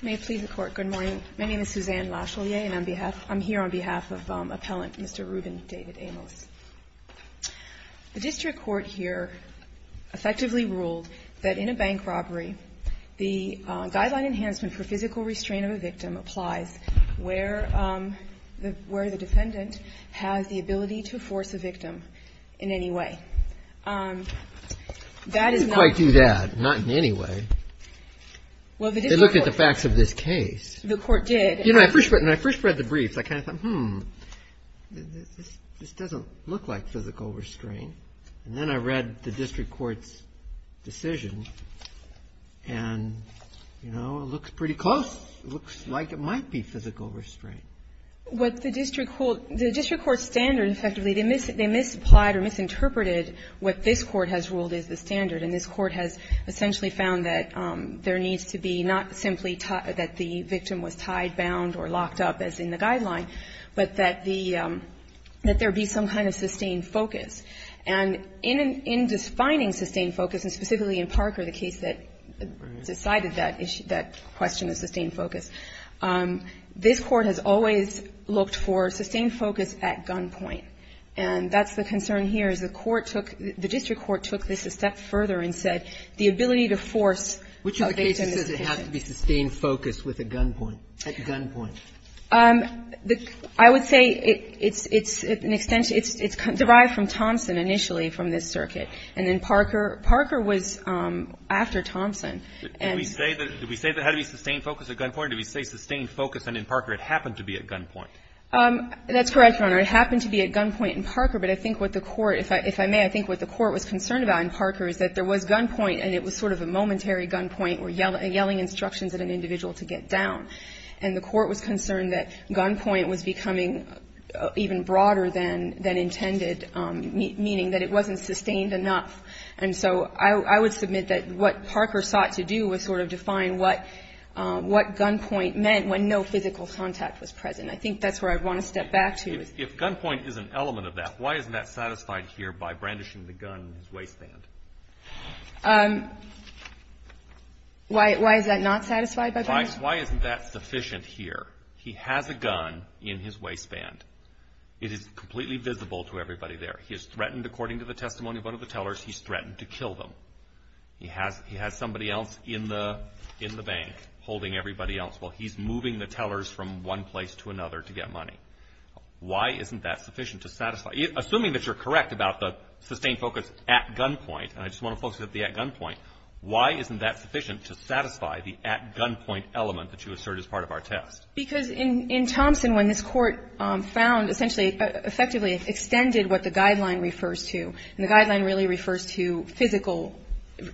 May it please the Court, good morning. My name is Suzanne Lachalier and I'm here on behalf of Appellant Mr. Ruben David Amos. The District Court here effectively ruled that in a bank robbery, the guideline enhancement for physical restraint of a victim applies where the defendant has the ability to force a victim in any way. That is not. I didn't quite do that. Not in any way. Well the District Court. They looked at the facts of this case. The Court did. You know when I first read the briefs I kind of thought hmm this doesn't look like physical restraint and then I read the District Court's decision and you know it looks pretty close. It looks like it might be physical restraint. What the District Court, the District Court's standard effectively, they misapplied or misinterpreted what this Court has ruled is the standard and this Court has essentially found that there needs to be not simply that the victim was tied, bound or locked up as in the guideline, but that the, that there be some kind of sustained focus. And in defining sustained focus and specifically in Parker, the case that decided that issue, that question of sustained focus, this Court has always looked for sustained focus at gunpoint. And that's the concern here is the Court took, the District Court took this a step further and said the ability to force a victim in this case. Which of the cases does it have to be sustained focus with a gunpoint, at gunpoint? I would say it's an extension, it's derived from Thompson initially from this circuit and then Parker, Parker was after Thompson. Did we say that, did we say that it had to be sustained focus at gunpoint? Did we say sustained focus and in Parker it happened to be at gunpoint? That's correct, Your Honor. It happened to be at gunpoint in Parker, but I think what the Court, if I may, I think what the Court was concerned about in Parker is that there was gunpoint and it was sort of a momentary gunpoint where yelling instructions at an individual to get down. And the Court was concerned that gunpoint was becoming even broader than, than intended, meaning that it wasn't sustained enough. And so I, I would submit that what Parker sought to do was sort of define what, what gunpoint meant when no physical contact was present. I think that's where I'd want to step back to. If gunpoint is an element of that, why isn't that satisfied here by brandishing the gun in his waistband? Why, why is that not satisfied by brandishing? Why isn't that sufficient here? He has a gun in his waistband. It is completely visible to everybody there. He is threatened, according to the testimony of one of the tellers, he's threatened to kill them. He has, he has somebody else in the, in the bank holding everybody else while he's moving the tellers from one place to another to get money. Why isn't that sufficient to satisfy? Assuming that you're correct about the sustained focus at gunpoint, and I just want to focus at the at gunpoint, why isn't that sufficient to satisfy the at gunpoint element that you assert as part of our test? Because in, in Thompson, when this court found, essentially, effectively extended what the guideline refers to, and the guideline really refers to physical,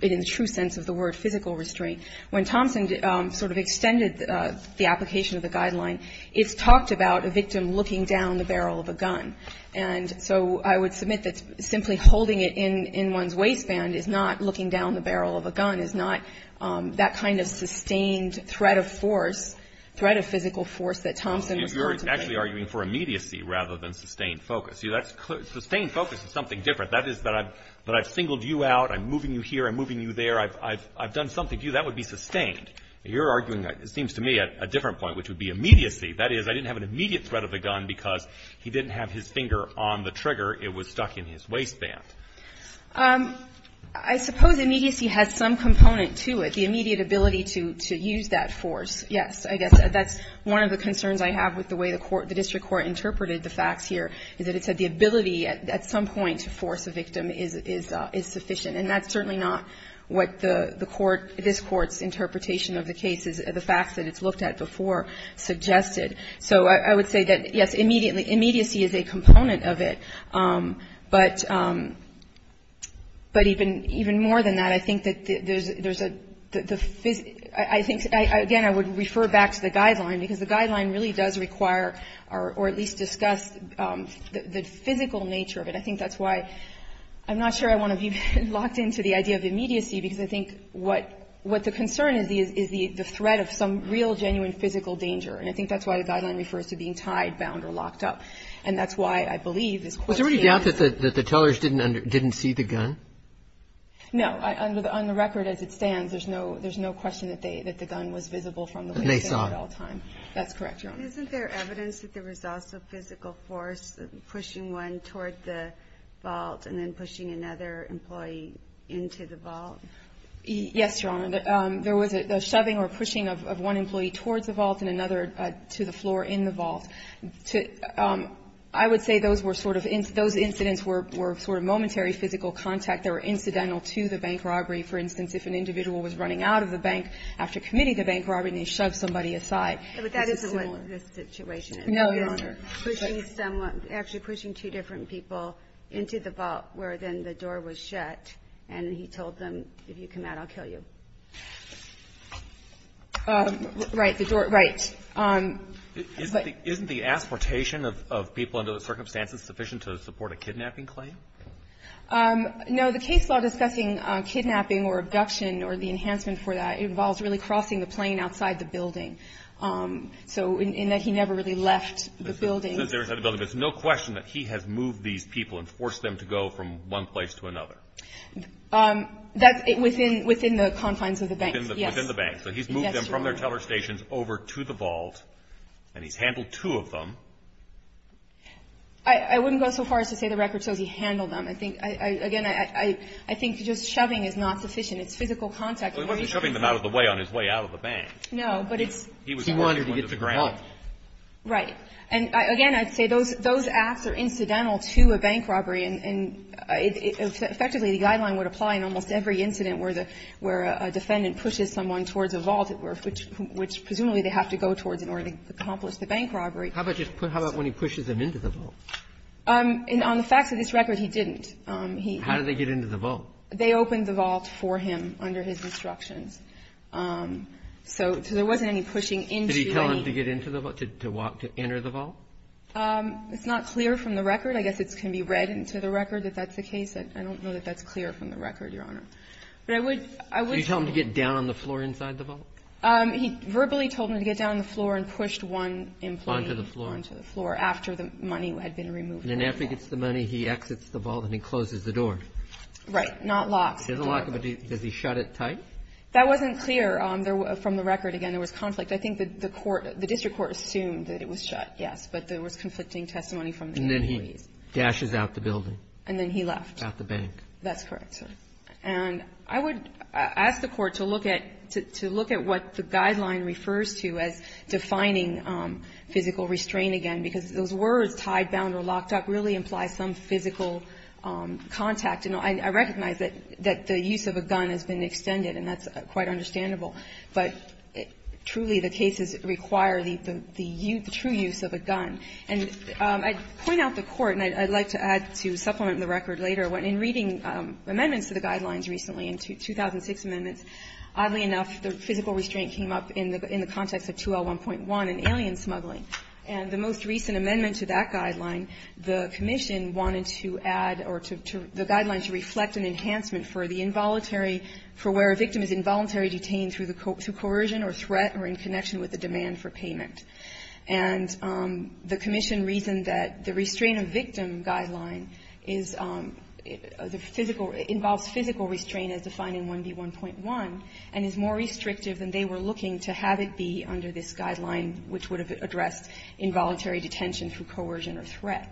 in the true sense of the word, physical restraint, when Thompson sort of extended the application of the guideline, it's talked about a victim looking down the barrel of a gun. And so I would submit that simply holding it in, in one's waistband is not looking down the barrel of a gun, is not that kind of sustained threat of force, threat of physical force that Thompson was going to make. You're actually arguing for immediacy rather than sustained focus. See, that's, sustained focus is something different. That is that I've, that I've singled you out. I'm moving you here, I'm moving you there. I've, I've, I've done something to you. That would be sustained. You're arguing, it seems to me, at a different point, which would be immediacy. That is, I didn't have an immediate threat of the gun because he didn't have his finger on the trigger, it was stuck in his waistband. I suppose immediacy has some component to it. The immediate ability to, to use that force. Yes, I guess that's one of the concerns I have with the way the court, the district court interpreted the facts here, is that it said the ability at, at some point to force a victim is, is, is sufficient. And that's certainly not what the, the court, this court's interpretation of the case is, the facts that it's looked at before suggested. So I, I would say that, yes, immediately, immediacy is a component of it. But, but even, even more than that, I think that the, there's, there's a, the, the phys, I, I think, I, again, I would refer back to the guideline. Because the guideline really does require, or, or at least discuss the, the physical nature of it. I think that's why, I'm not sure I want to be locked into the idea of immediacy. Because I think what, what the concern is, is, is the, the threat of some real genuine physical danger. And I think that's why the guideline refers to being tied, bound, or locked up. And that's why, I believe, this court- Was there any doubt that the, that the tellers didn't under, didn't see the gun? No, I, under the, on the record, as it stands, there's no, there's no question that they, that the gun was visible from the window at all time. And they saw it. That's correct, Your Honor. Isn't there evidence that there was also physical force pushing one toward the vault and then pushing another employee into the vault? Yes, Your Honor. There was a, a shoving or pushing of, of one employee towards the vault and another to the floor in the vault. To, I would say those were sort of in, those incidents were, were sort of momentary physical contact. They were incidental to the bank robbery. For instance, if an individual was running out of the bank after committing the bank robbery, and they shoved somebody aside. But that isn't what this situation is. No, Your Honor. Pushing someone, actually pushing two different people into the vault, where then the door was shut, and he told them, if you come out, I'll kill you. Right, the door, right. Isn't the, isn't the asportation of, of people under those circumstances sufficient to support a kidnapping claim? No, the case law discussing kidnapping or abduction or the enhancement for that involves really crossing the plane outside the building. So, in, in that he never really left the building. Since he was inside the building, there's no question that he has moved these people and forced them to go from one place to another. That's, within, within the confines of the bank. Within the, within the bank. So, he's moved them from their teller stations over to the vault. And he's handled two of them. I, I wouldn't go so far as to say the record shows he handled them. I think, I, I, again, I, I, I think just shoving is not sufficient. It's physical contact. Well, he wasn't shoving them out of the way on his way out of the bank. No, but it's. He was forced to get to the ground. Right. And I, again, I'd say those, those acts are incidental to a bank robbery. And, and it, it, effectively the guideline would apply in almost every incident where the, where a defendant pushes someone towards a vault, which, which presumably they have to go towards in order to accomplish the bank robbery. How about just, how about when he pushes them into the vault? And on the facts of this record, he didn't. He. How did they get into the vault? They opened the vault for him under his instructions. So, so there wasn't any pushing into any. Did he tell them to get into the vault, to, to walk to enter the vault? It's not clear from the record. I guess it can be read into the record that that's the case. I don't know that that's clear from the record, Your Honor. But I would, I would. Did you tell him to get down on the floor inside the vault? He verbally told him to get down on the floor and pushed one employee. Onto the floor. Onto the floor after the money had been removed. And then after he gets the money, he exits the vault and he closes the door. Right. Not locks. There's a lock, but does he shut it tight? That wasn't clear. There were, from the record, again, there was conflict. I think the, the court, the district court assumed that it was shut, yes. But there was conflicting testimony from the employees. And then he dashes out the building. And then he left. Out the bank. That's correct, sir. And I would ask the Court to look at, to look at what the guideline refers to as defining physical restraint again, because those words, tied, bound or locked up, really imply some physical contact. And I recognize that the use of a gun has been extended, and that's quite understandable. But truly, the cases require the true use of a gun. And I'd point out the Court, and I'd like to add to supplement the record later, in reading amendments to the guidelines recently, in 2006 amendments, oddly enough, the physical restraint came up in the context of 2L1.1 and alien smuggling. And the most recent amendment to that guideline, the Commission wanted to add, or to, to, the guideline to reflect an enhancement for the involuntary, for where a victim is involuntary detained through coercion or threat or in connection with the demand for payment. And the Commission reasoned that the restraint of victim guideline is the physical, involves physical restraint as defined in 1B1.1, and is more restrictive than they were looking to have it be under this guideline, which would have addressed involuntary detention through coercion or threat.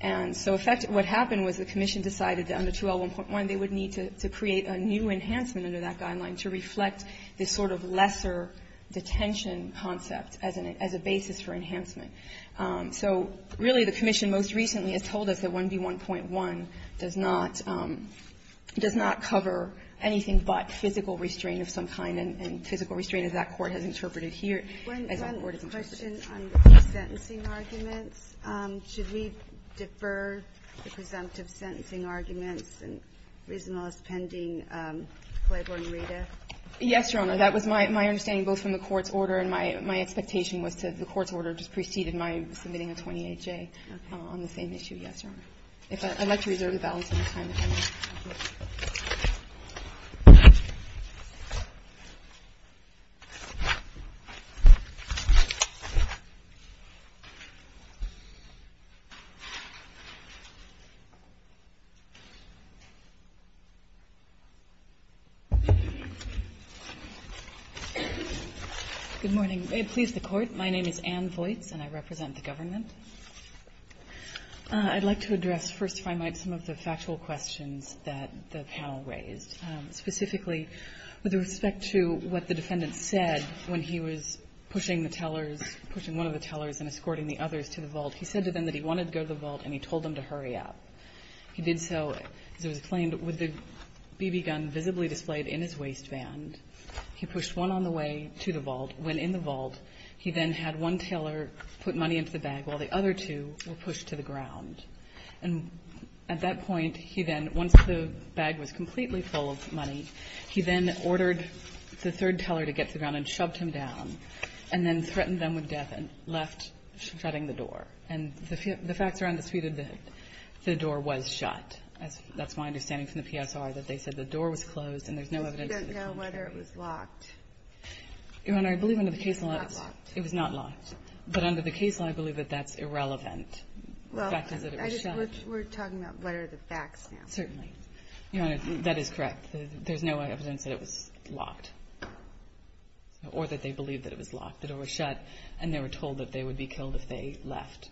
And so, in fact, what happened was the Commission decided that under 2L1.1, they would need to create a new enhancement under that guideline to reflect this sort of lesser detention concept as a basis for enhancement. So, really, the Commission most recently has told us that 1B1.1 does not, does not cover anything but physical restraint of some kind, and physical restraint, as that Court has interpreted here, as that Court has interpreted. Should we defer the presumptive sentencing arguments and reasonableness pending Claiborne-Rita? Yes, Your Honor. That was my understanding, both from the Court's order and my expectation was that the Court's order just preceded my submitting a 28-J on the same issue. Yes, Your Honor. If I'd like to reserve the balance of my time if I may. Good morning. May it please the Court, my name is Ann Voights, and I represent the government. I'd like to address, first if I might, some of the factual questions that the panel raised, specifically with respect to what the defendant said when he was pushing the tellers, pushing one of the tellers and escorting the others to the vault. He said to them that he wanted to go to the vault, and he told them to hurry up. He did so, as it was claimed, with the BB gun visibly displayed in his waistband, he pushed one on the way to the vault. When in the vault, he then had one teller put money into the bag while the other two were pushed to the ground. And at that point, he then, once the bag was completely full of money, he then ordered the third teller to get to the ground and shoved him down, and then threatened them with death and left, shutting the door. And the facts are undisputed that the door was shut. That's my understanding from the PSR, that they said the door was closed and there's no evidence that the door was shut. And there's no evidence that it was locked. Your Honor, I believe under the case law, it was not locked. But under the case law, I believe that that's irrelevant. The fact is that it was shut. Well, we're talking about what are the facts now. Certainly. Your Honor, that is correct. There's no evidence that it was locked or that they believed that it was locked, that it was shut, and they were told that they would be killed if they left.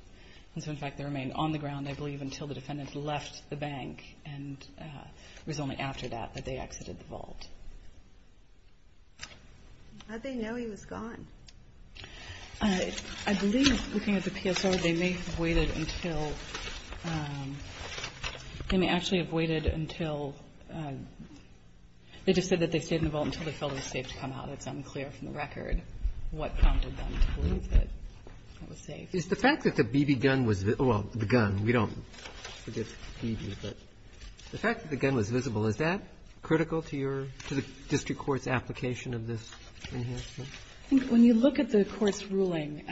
And so, in fact, they remained on the ground, I believe, until the defendant left the bank. And it was only after that that they exited the vault. How did they know he was gone? I believe, looking at the PSR, they may have waited until they may actually have waited until they just said that they stayed in the vault until they felt it was safe to come out. It's unclear from the record what prompted them to believe that it was safe. Is the fact that the BB gun was, well, the gun, we don't forget the BB, but the fact that the gun was visible, is that critical to your, to the district court's application of this? I think when you look at the Court's ruling,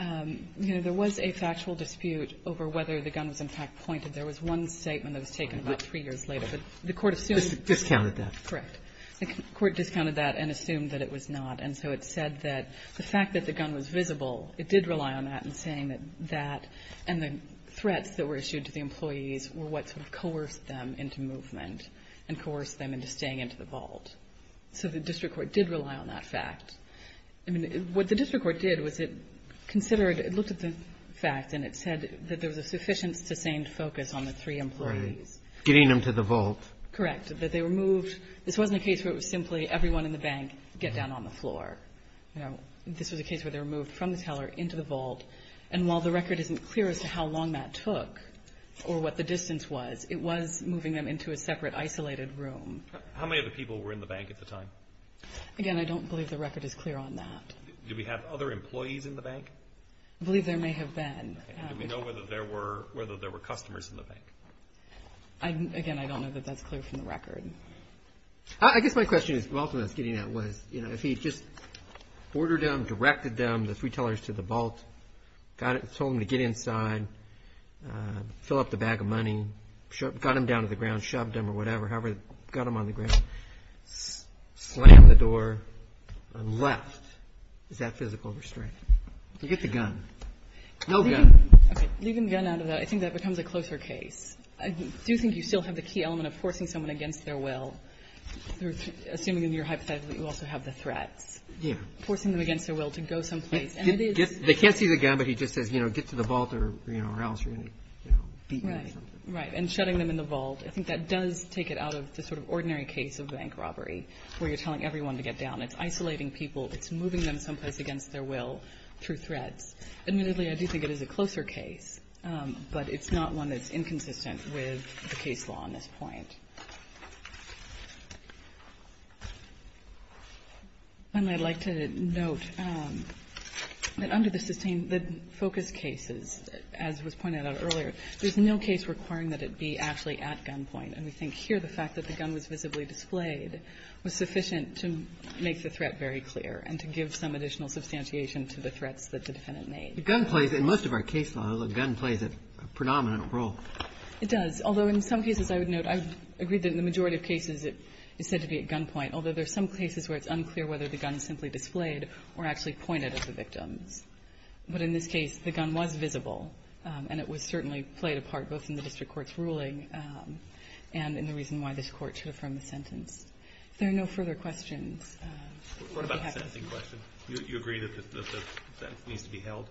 you know, there was a factual dispute over whether the gun was, in fact, pointed. There was one statement that was taken about three years later. But the Court assumed that. Discounted that. Correct. The Court discounted that and assumed that it was not. And so it said that the fact that the gun was visible, it did rely on that in saying that that and the threats that were issued to the employees were what sort of coerced them into movement and coerced them into staying into the vault. So the district court did rely on that fact. I mean, what the district court did was it considered, it looked at the fact and it said that there was a sufficient sustained focus on the three employees. Right. Getting them to the vault. Correct. That they were moved. This wasn't a case where it was simply everyone in the bank get down on the floor. You know, this was a case where they were moved from the teller into the vault. And while the record isn't clear as to how long that took or what the distance was, it was moving them into a separate isolated room. How many of the people were in the bank at the time? Again, I don't believe the record is clear on that. Do we have other employees in the bank? I believe there may have been. Do we know whether there were customers in the bank? Again, I don't know that that's clear from the record. I guess my question is, well, from what I was getting at was, you know, if he just ordered them, directed them, the three tellers to the vault, told them to get inside, fill up the bag of money, got them down to the ground, shoved them or whatever, however, got them on the ground, slammed the door and left. Is that physical restraint? You get the gun. No gun. Okay. Leaving the gun out of that, I think that becomes a closer case. I do think you still have the key element of forcing someone against their will, assuming in your hypothetical that you also have the threats. Yeah. Forcing them against their will to go someplace. They can't see the gun, but he just says, you know, get to the vault or else you're going to beat me or something. Right. And shutting them in the vault. I think that does take it out of the sort of ordinary case of bank robbery where you're telling everyone to get down. It's isolating people. It's moving them someplace against their will through threats. Admittedly, I do think it is a closer case, but it's not one that's inconsistent with the case law on this point. And I'd like to note that under the focus cases, as was pointed out earlier, there's no case requiring that it be actually at gunpoint. And we think here the fact that the gun was visibly displayed was sufficient to make the threat very clear and to give some additional substantiation to the threats that the defendant made. The gun plays, in most of our case law, the gun plays a predominant role. It does. Although in some cases, I would note, I would agree that in the majority of cases it is said to be at gunpoint, although there are some cases where it's unclear whether the gun is simply displayed or actually pointed at the victims. But in this case, the gun was visible, and it was certainly played a part both in the district court's ruling and in the reason why this court should affirm the sentence. If there are no further questions. What about the sentencing question? Do you agree that that needs to be held?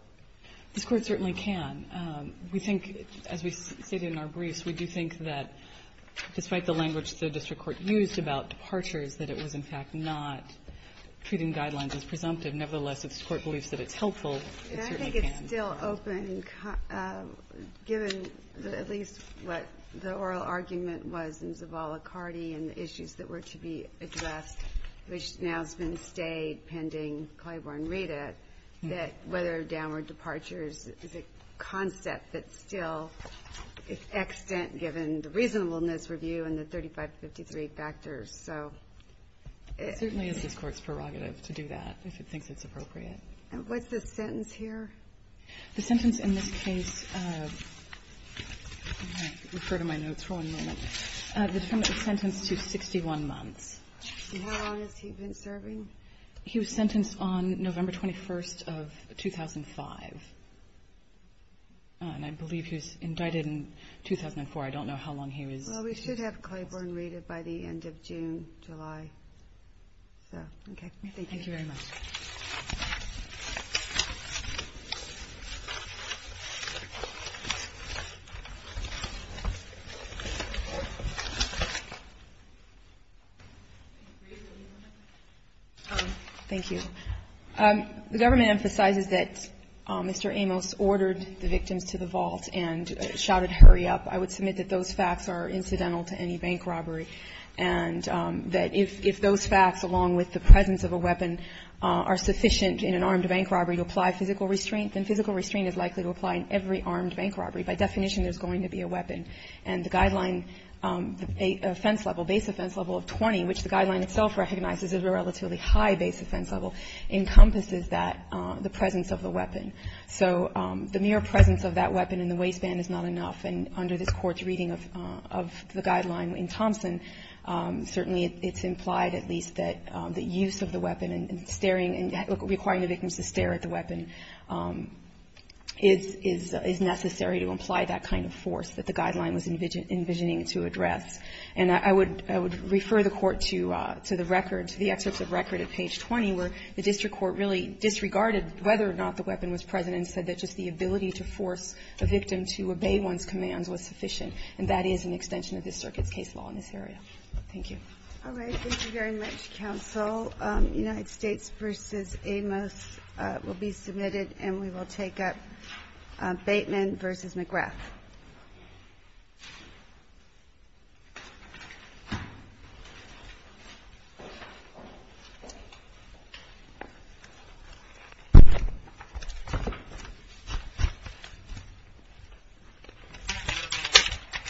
This Court certainly can. We think, as we stated in our briefs, we do think that despite the language the district court used about departures, that it was in fact not treating guidelines as presumptive. Nevertheless, if this Court believes that it's helpful, it certainly can. I think it's still open, given at least what the oral argument was in Zavala-Cardi and the issues that were to be addressed, which now has been stayed pending Claiborne-Reeda, that whether downward departures is a concept that still is extant given the reasonableness review and the 3553 factors. So it's the Court's prerogative to do that, if it thinks it's appropriate. And what's the sentence here? The sentence in this case refer to my notes for one moment. The defendant is sentenced to 61 months. And how long has he been serving? He was sentenced on November 21st of 2005. And I believe he was indicted in 2004. I don't know how long he was. Well, we should have Claiborne-Reeda by the end of June, July. So, okay. Thank you very much. Thank you. The government emphasizes that Mr. Amos ordered the victims to the vault and shouted hurry up. I would submit that those facts are incidental to any bank robbery, and that if those facts, along with the presence of a weapon, are sufficient in an armed bank robbery to apply physical restraint, then physical restraint is likely to apply in every armed bank robbery. By definition, there's going to be a weapon. And the guideline, the offense level, base offense level of 20, which the guideline itself recognizes as a relatively high base offense level, encompasses that, the presence of the weapon. So the mere presence of that weapon in the waistband is not enough. And under this Court's reading of the guideline in Thompson, certainly it's implied at least that the use of the weapon and staring and requiring the victims to stare at the weapon is necessary to imply that kind of force that the guideline was envisioning to address. And I would refer the Court to the record, to the excerpts of record at page 20, where the district court really disregarded whether or not the weapon was present and said that just the ability to force a victim to obey one's commands was sufficient. And that is an extension of this Circuit's case law in this area. Thank you. All right. Thank you very much, counsel. United States v. Amos will be submitted, and we will take up Bateman v. McGrath. Thank you.